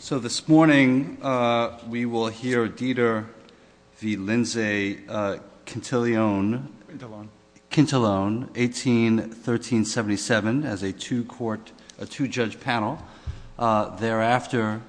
So this morning we will hear Dieter v. Lindsay Quintilone 181377 as a two-judge panel. Thereafter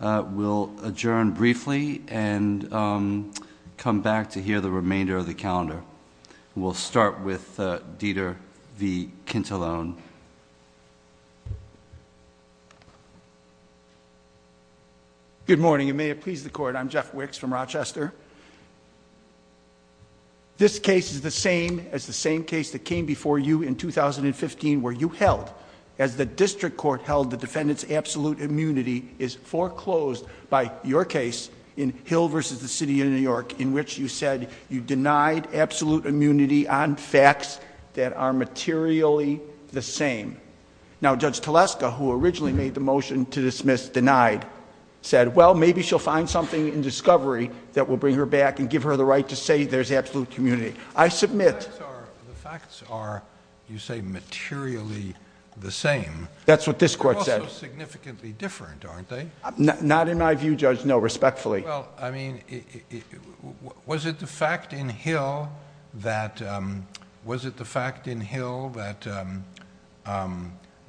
we'll adjourn briefly and come back to hear the remainder of the calendar. We'll start with Dieter v. Quintilone. Good morning and may it please the Court, I'm Jeff Wicks from Rochester. This case is the same as the same case that came before you in 2015 where you held, as the District Court held the defendant's absolute immunity is foreclosed by your case in Hill v. The City of New York in which you said you denied absolute immunity on facts that are materially the same. Now Judge Teleska, who originally made the motion to dismiss denied, said, well maybe she'll find something in discovery that will bring her back and give her the right to say there's absolute immunity. I submit... The facts are, you say, materially the same. That's what this Court said. They're also significantly different, aren't they? Not in my view, Judge. No, respectfully. Well, I mean, was it the fact in Hill that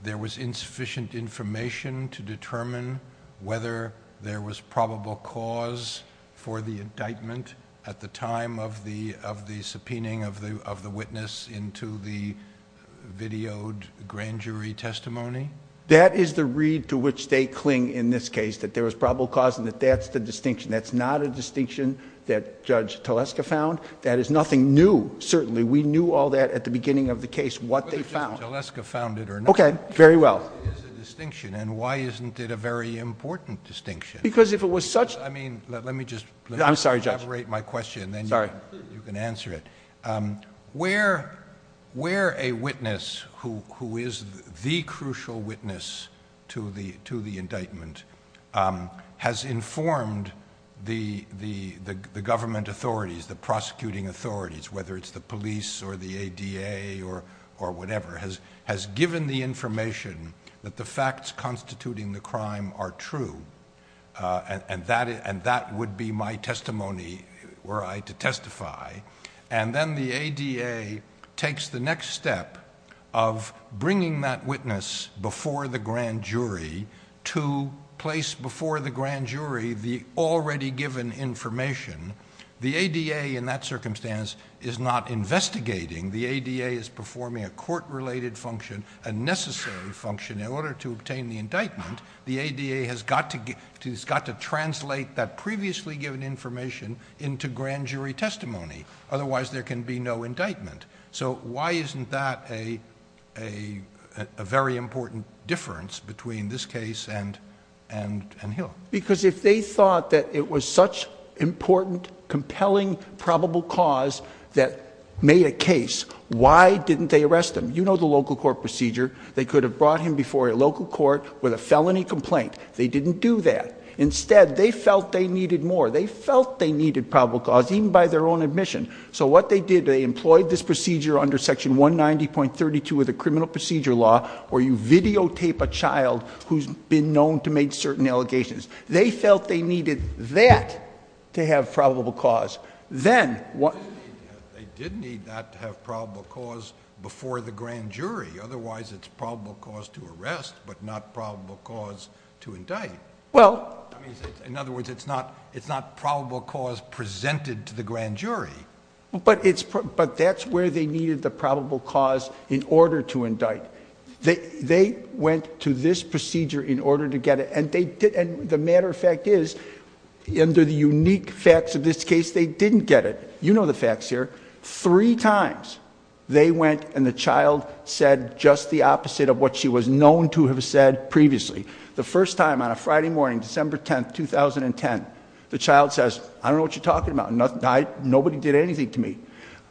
there was insufficient information to determine whether there was probable cause for the indictment at the time of the subpoenaing of the witness into the videoed grand jury testimony? That is the reed to which they cling in this case, that there was probable cause and that that's the distinction. That's not a distinction that Judge Teleska found. That is nothing new, certainly. We knew all that at the beginning of the case, what they found. Whether Judge Teleska found it or not... Okay, very well. ...is a distinction and why isn't it a very important distinction? Because if it was such... I mean, let me just... I'm sorry, Judge. ...elaborate my question and then you can answer it. Sorry. Where a witness who is the crucial witness to the indictment has informed the government authorities, the prosecuting authorities, whether it's the police or the ADA or whatever, has given the information that the facts constituting the crime are true, and that would be my testimony were I to testify, and then the ADA takes the next step of bringing that witness before the grand jury to place before the grand jury the already given information. The ADA, in that circumstance, is not investigating. The ADA is performing a court-related function, a necessary function, in order to obtain the indictment. The ADA has got to translate that previously given information into grand jury testimony. Otherwise, there can be no indictment. So why isn't that a very important difference between this case and Hill? Because if they thought that it was such an important, compelling, probable cause that made a case, why didn't they arrest him? You know the local court procedure. They could have brought him before a local court with a felony complaint. They didn't do that. Instead, they felt they needed more. They felt they needed probable cause, even by their own admission. So what they did, they employed this procedure under section 190.32 of the criminal procedure law where you videotape a child who's been known to make certain allegations. They felt they needed that to have probable cause. They did need that to have probable cause before the grand jury. Otherwise, it's probable cause to arrest, but not probable cause to indict. In other words, it's not probable cause presented to the grand jury. But that's where they needed the probable cause in order to indict. They went to this procedure in order to get it. The matter of fact is, under the unique facts of this case, they didn't get it. You know the facts here. Three times they went and the child said just the opposite of what she was known to have said previously. The first time on a Friday morning, December 10, 2010, the child says, I don't know what you're talking about. Nobody did anything to me.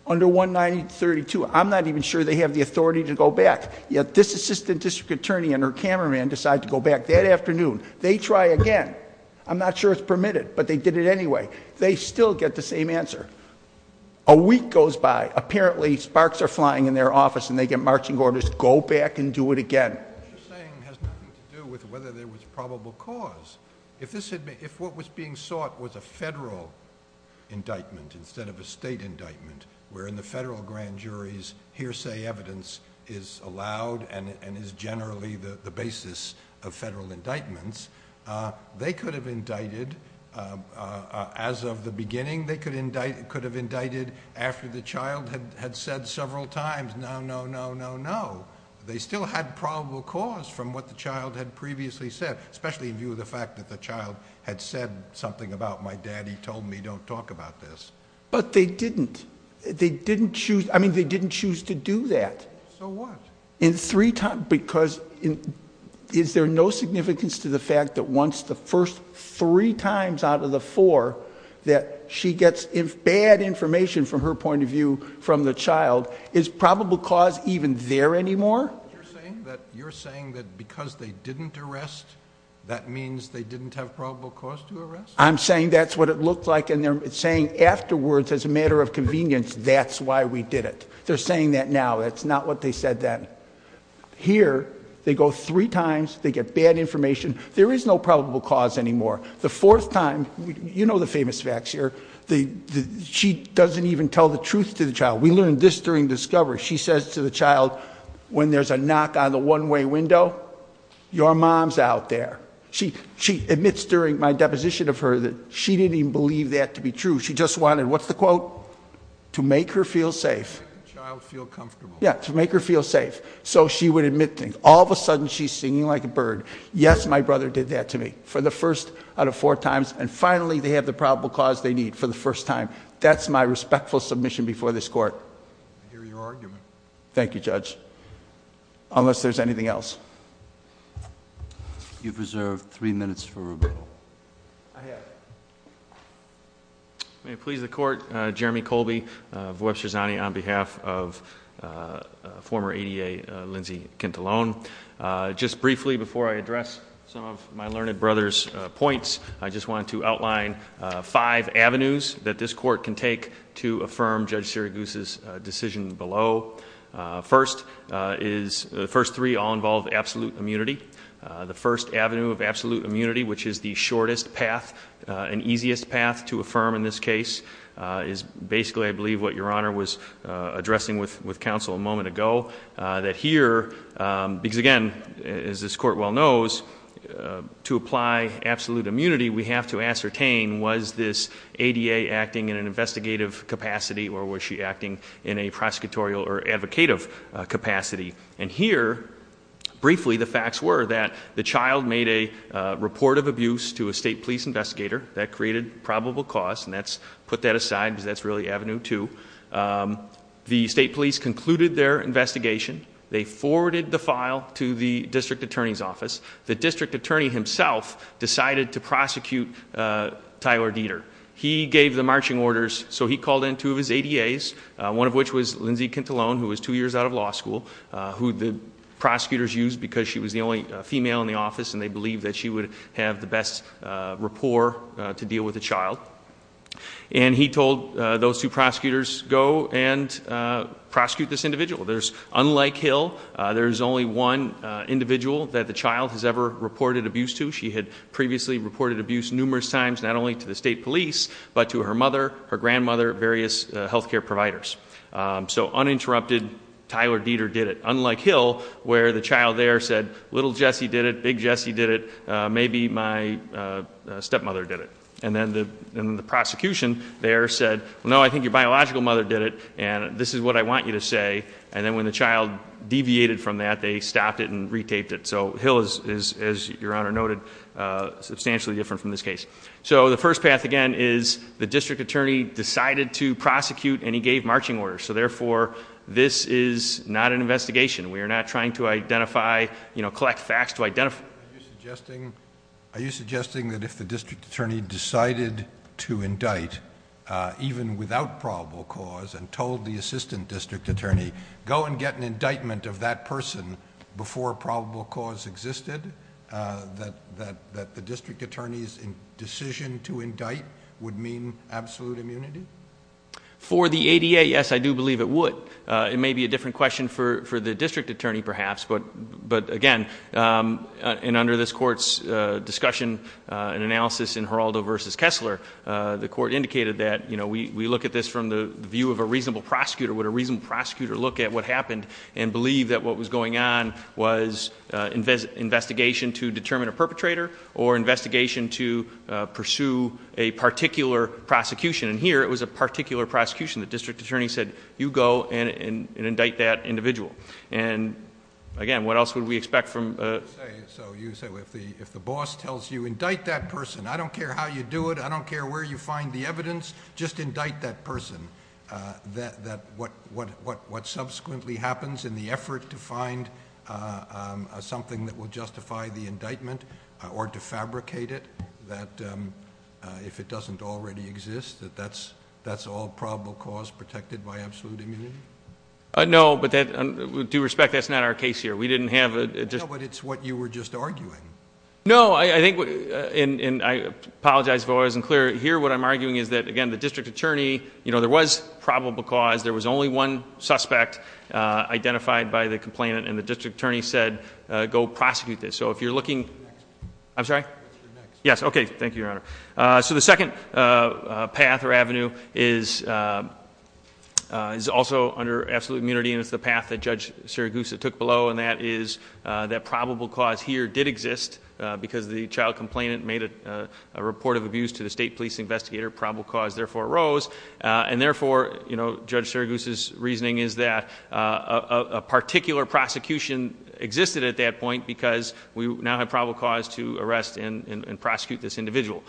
Under 190.32, I'm not even sure they have the authority to go back. Yet this assistant district attorney and her cameraman decide to go back that afternoon. They try again. I'm not sure it's permitted, but they did it anyway. They still get the same answer. A week goes by. Apparently, sparks are flying in their office and they get marching orders, go back and do it again. What you're saying has nothing to do with whether there was probable cause. If what was being sought was a federal indictment instead of a state indictment, where in the federal grand jury's hearsay evidence is allowed and is generally the basis of federal indictments, they could have indicted as of the beginning. They could have indicted after the child had said several times, no, no, no, no, no. They still had probable cause from what the child had previously said, especially in view of the fact that the child had said something about, my daddy told me don't talk about this. But they didn't. They didn't choose, I mean, they didn't choose to do that. So what? In three times, because is there no significance to the fact that once the first three times out of the four, that she gets bad information from her point of view from the child, is probable cause even there anymore? You're saying that because they didn't arrest, that means they didn't have probable cause to arrest? I'm saying that's what it looked like, and they're saying afterwards as a matter of convenience, that's why we did it. They're saying that now. That's not what they said then. Here, they go three times, they get bad information, there is no probable cause anymore. The fourth time, you know the famous facts here, she doesn't even tell the truth to the child. We learned this during discovery. She says to the child, when there's a knock on the one-way window, your mom's out there. She admits during my deposition of her that she didn't even believe that to be true. She just wanted, what's the quote? To make her feel safe. To make the child feel comfortable. Yeah, to make her feel safe. So she would admit things. All of a sudden, she's singing like a bird. Yes, my brother did that to me. For the first out of four times, and finally they have the probable cause they need for the first time. That's my respectful submission before this court. I hear your argument. Thank you, Judge. Unless there's anything else. You've reserved three minutes for rebuttal. I have. May it please the court. Jeremy Colby of Webster Zani on behalf of former ADA, Lindsay Kintelone. Just briefly before I address some of my learned brother's points, I just wanted to outline five avenues that this court can take to affirm Judge Syragoose's decision below. The first three all involve absolute immunity. The first avenue of absolute immunity, which is the shortest path and easiest path to affirm in this case, is basically, I believe, what Your Honor was addressing with counsel a moment ago. That here, because again, as this court well knows, to apply absolute immunity, we have to ascertain was this ADA acting in an investigative capacity, or was she acting in a prosecutorial or advocative capacity. And here, briefly, the facts were that the child made a report of abuse to a state police investigator. That created probable cause, and let's put that aside because that's really avenue two. The state police concluded their investigation. The district attorney himself decided to prosecute Tyler Dieter. He gave the marching orders, so he called in two of his ADAs, one of which was Lindsay Kintelone, who was two years out of law school, who the prosecutors used because she was the only female in the office, and they believed that she would have the best rapport to deal with a child. And he told those two prosecutors, go and prosecute this individual. Unlike Hill, there's only one individual that the child has ever reported abuse to. She had previously reported abuse numerous times, not only to the state police, but to her mother, her grandmother, various health care providers. So uninterrupted, Tyler Dieter did it. Unlike Hill, where the child there said, little Jesse did it, big Jesse did it, maybe my stepmother did it. And then the prosecution there said, no, I think your biological mother did it, and this is what I want you to say. And then when the child deviated from that, they stopped it and re-taped it. So Hill is, as Your Honor noted, substantially different from this case. So the first path, again, is the district attorney decided to prosecute, and he gave marching orders. So therefore, this is not an investigation. We are not trying to identify, you know, collect facts to identify. Are you suggesting that if the district attorney decided to indict, even without probable cause, and told the assistant district attorney, go and get an indictment of that person before probable cause existed, that the district attorney's decision to indict would mean absolute immunity? For the ADA, yes, I do believe it would. It may be a different question for the district attorney, perhaps, but again, and under this court's discussion and analysis in Geraldo versus Kessler, the court indicated that, you know, we look at this from the view of a reasonable prosecutor. Would a reasonable prosecutor look at what happened and believe that what was going on was investigation to determine a perpetrator or investigation to pursue a particular prosecution? And here, it was a particular prosecution. The district attorney said, you go and indict that individual. And again, what else would we expect from a ---- So you say if the boss tells you, indict that person, I don't care how you do it, I don't care where you find the evidence, just indict that person, that what subsequently happens in the effort to find something that will justify the indictment or defabricate it, that if it doesn't already exist, that that's all probable cause protected by absolute immunity? No, but with due respect, that's not our case here. We didn't have a ---- No, but it's what you were just arguing. No, I think what ---- and I apologize if I wasn't clear. Here, what I'm arguing is that, again, the district attorney, you know, there was probable cause. There was only one suspect identified by the complainant, and the district attorney said, go prosecute this. So if you're looking ---- You're next. I'm sorry? You're next. Yes, okay. Thank you, Your Honor. So the second path or avenue is also under absolute immunity, and it's the path that Judge Sirigusa took below, and that is that probable cause here did exist because the child complainant made a report of abuse to the state police investigator. Probable cause therefore arose. And therefore, you know, Judge Sirigusa's reasoning is that a particular prosecution existed at that point because we now have probable cause to arrest and prosecute this individual.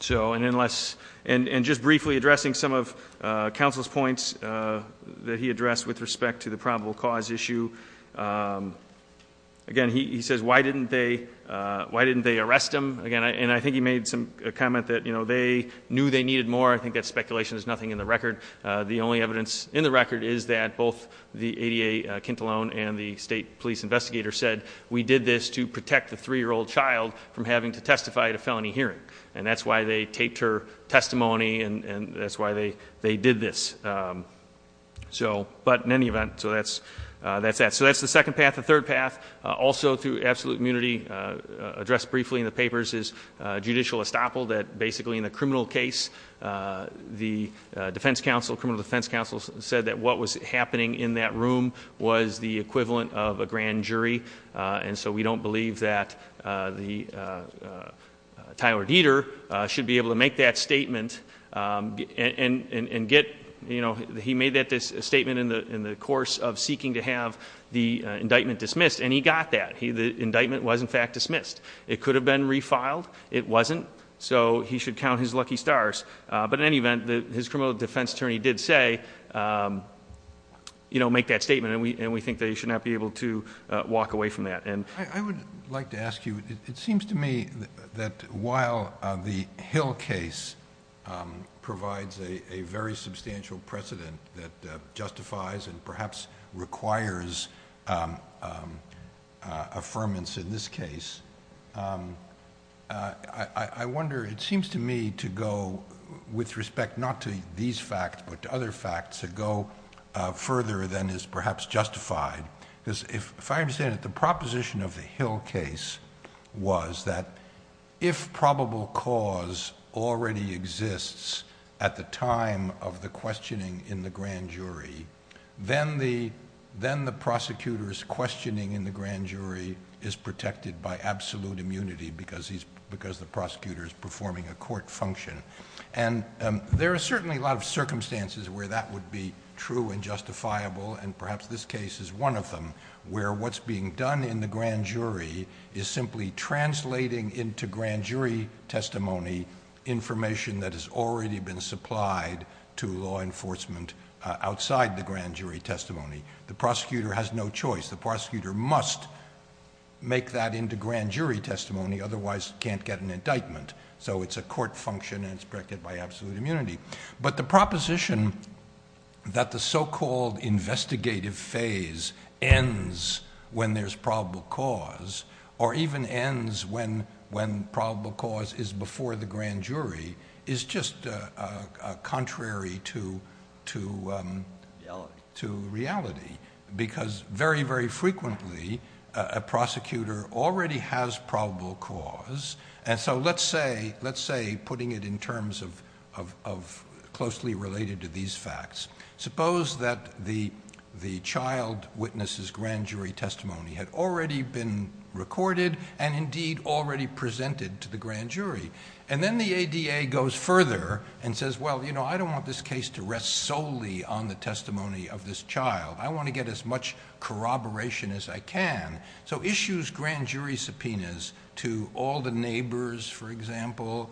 So, and unless ---- and just briefly addressing some of counsel's points that he addressed with respect to the probable cause issue, again, he says, why didn't they arrest him? Again, and I think he made a comment that, you know, they knew they needed more. I think that speculation is nothing in the record. The only evidence in the record is that both the ADA Kintalone and the state police investigator said, we did this to protect the three-year-old child from having to testify at a felony hearing. And that's why they taped her testimony, and that's why they did this. So, but in any event, so that's that. So that's the second path. The third path, also through absolute immunity, addressed briefly in the papers, is judicial estoppel, that basically in the criminal case, the defense counsel, criminal defense counsel said that what was happening in that room was the equivalent of a grand jury. And so we don't believe that the Tyler Dieter should be able to make that statement and get, you know, he made that statement in the course of seeking to have the indictment dismissed, and he got that. It was dismissed. It could have been refiled. It wasn't. So he should count his lucky stars. But in any event, his criminal defense attorney did say, you know, make that statement, and we think that he should not be able to walk away from that. I would like to ask you, it seems to me that while the Hill case provides a very substantial precedent that justifies and perhaps requires affirmance in this case, I wonder, it seems to me to go with respect not to these facts, but to other facts, to go further than is perhaps justified. Because if I understand it, the proposition of the Hill case was that if probable cause already exists at the time of the questioning in the grand jury, then the prosecutor's questioning in the grand jury is protected by absolute immunity because the prosecutor is performing a court function. And there are certainly a lot of circumstances where that would be true and justifiable, and perhaps this case is one of them, where what's being done in the grand jury is simply translating into grand jury testimony information that has already been supplied to law enforcement outside the grand jury testimony. The prosecutor has no choice. The prosecutor must make that into grand jury testimony, otherwise can't get an indictment. So it's a court function and it's protected by absolute immunity. But the proposition that the so-called investigative phase ends when there's probable cause or even ends when probable cause is before the grand jury is just contrary to reality because very, very frequently a prosecutor already has probable cause. And so let's say, putting it in terms of closely related to these facts, suppose that the child witness's grand jury testimony had already been recorded and indeed already presented to the grand jury. And then the ADA goes further and says, well, you know, I don't want this case to rest solely on the testimony of this child. I want to get as much corroboration as I can. So issues grand jury subpoenas to all the neighbors, for example,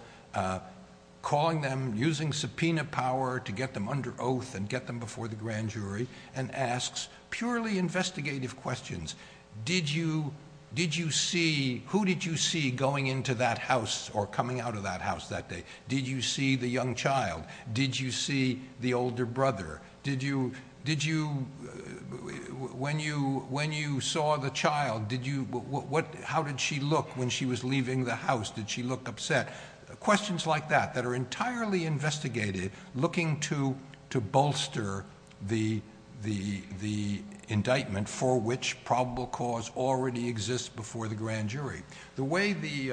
calling them, using subpoena power to get them under oath and get them before the grand jury and asks purely investigative questions. Who did you see going into that house or coming out of that house that day? Did you see the young child? Did you see the older brother? When you saw the child, how did she look when she was leaving the house? Did she look upset? Questions like that that are entirely investigative, looking to bolster the indictment for which probable cause already exists before the grand jury. The way the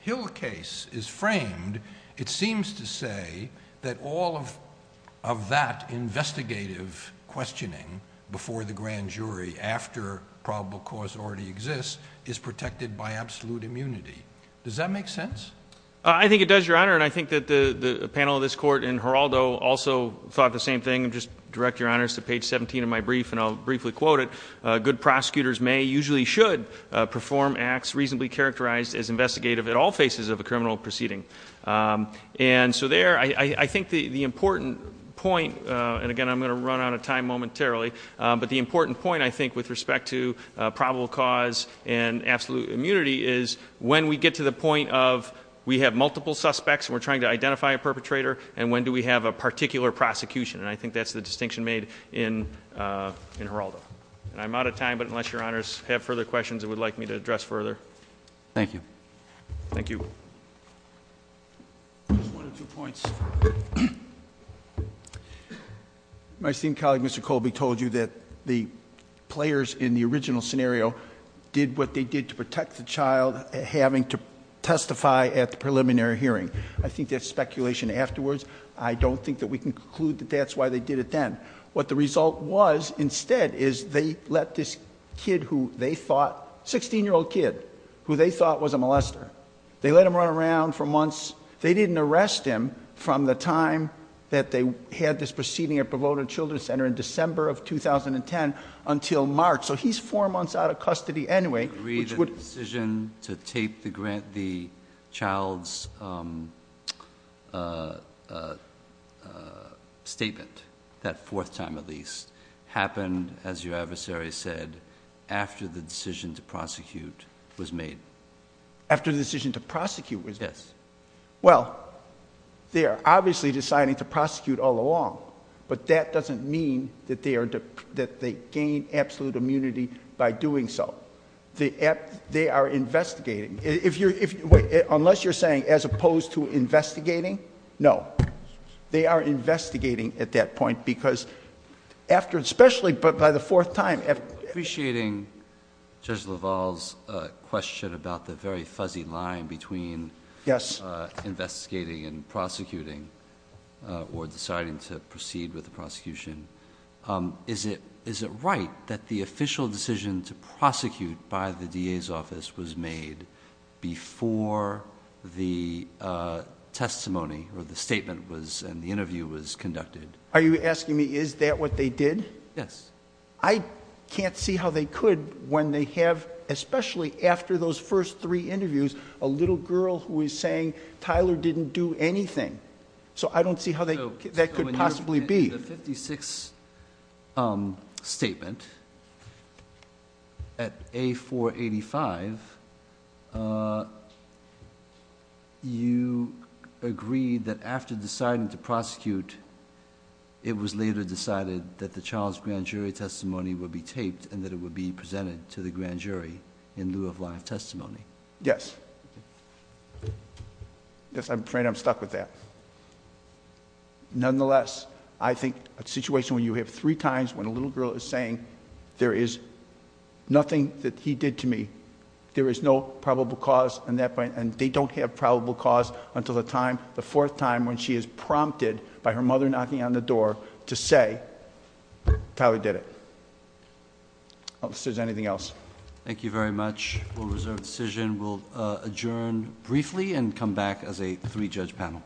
Hill case is framed, it seems to say that all of that investigative questioning before the grand jury after probable cause already exists is protected by absolute immunity. Does that make sense? I think it does, Your Honor, and I think that the panel of this Court in Geraldo also thought the same thing. I'll just direct, Your Honor, to page 17 of my brief, and I'll briefly quote it. Good prosecutors may, usually should, perform acts reasonably characterized as investigative at all phases of a criminal proceeding. And so there, I think the important point, and again, I'm going to run out of time momentarily, but the important point, I think, with respect to probable cause and absolute immunity is when we get to the point of we have multiple suspects and we're trying to identify a perpetrator, and when do we have a particular prosecution, and I think that's the distinction made in Geraldo. And I'm out of time, but unless Your Honors have further questions that you would like me to address further. Thank you. Thank you. Just one or two points. My esteemed colleague, Mr. Colby, told you that the players in the original scenario did what they did to protect the child having to testify at the preliminary hearing. I think there's speculation afterwards. I don't think that we can conclude that that's why they did it then. What the result was instead is they let this 16-year-old kid, who they thought was a molester, they let him run around for months. They didn't arrest him from the time that they had this proceeding at Provodna Children's Center in December of 2010 until March. So he's four months out of custody anyway. I agree that the decision to tape the child's statement, that fourth time at least, happened, as your adversary said, after the decision to prosecute was made. After the decision to prosecute was made? Yes. Well, they are obviously deciding to prosecute all along, but that doesn't mean that they gain absolute immunity by doing so. They are investigating. Unless you're saying as opposed to investigating? No. They are investigating at that point because after, especially by the fourth time. Appreciating Judge LaValle's question about the very fuzzy line between investigating and prosecuting or deciding to proceed with the prosecution, is it right that the official decision to prosecute by the DA's office was made before the testimony or the statement and the interview was conducted? Are you asking me is that what they did? Yes. I can't see how they could when they have, especially after those first three interviews, a little girl who is saying Tyler didn't do anything. So I don't see how that could possibly be. So in your 56th statement at A485, you agreed that after deciding to prosecute, it was later decided that the child's grand jury testimony would be taped and that it would be presented to the grand jury in lieu of live testimony. Yes. Yes, I'm afraid I'm stuck with that. Nonetheless, I think a situation where you have three times when a little girl is saying there is nothing that he did to me, there is no probable cause, and they don't have probable cause until the fourth time when she is prompted by her mother knocking on the door to say Tyler did it. Unless there's anything else. Thank you very much. We'll reserve the decision. We'll adjourn briefly and come back as a three-judge panel. Court is adjourned.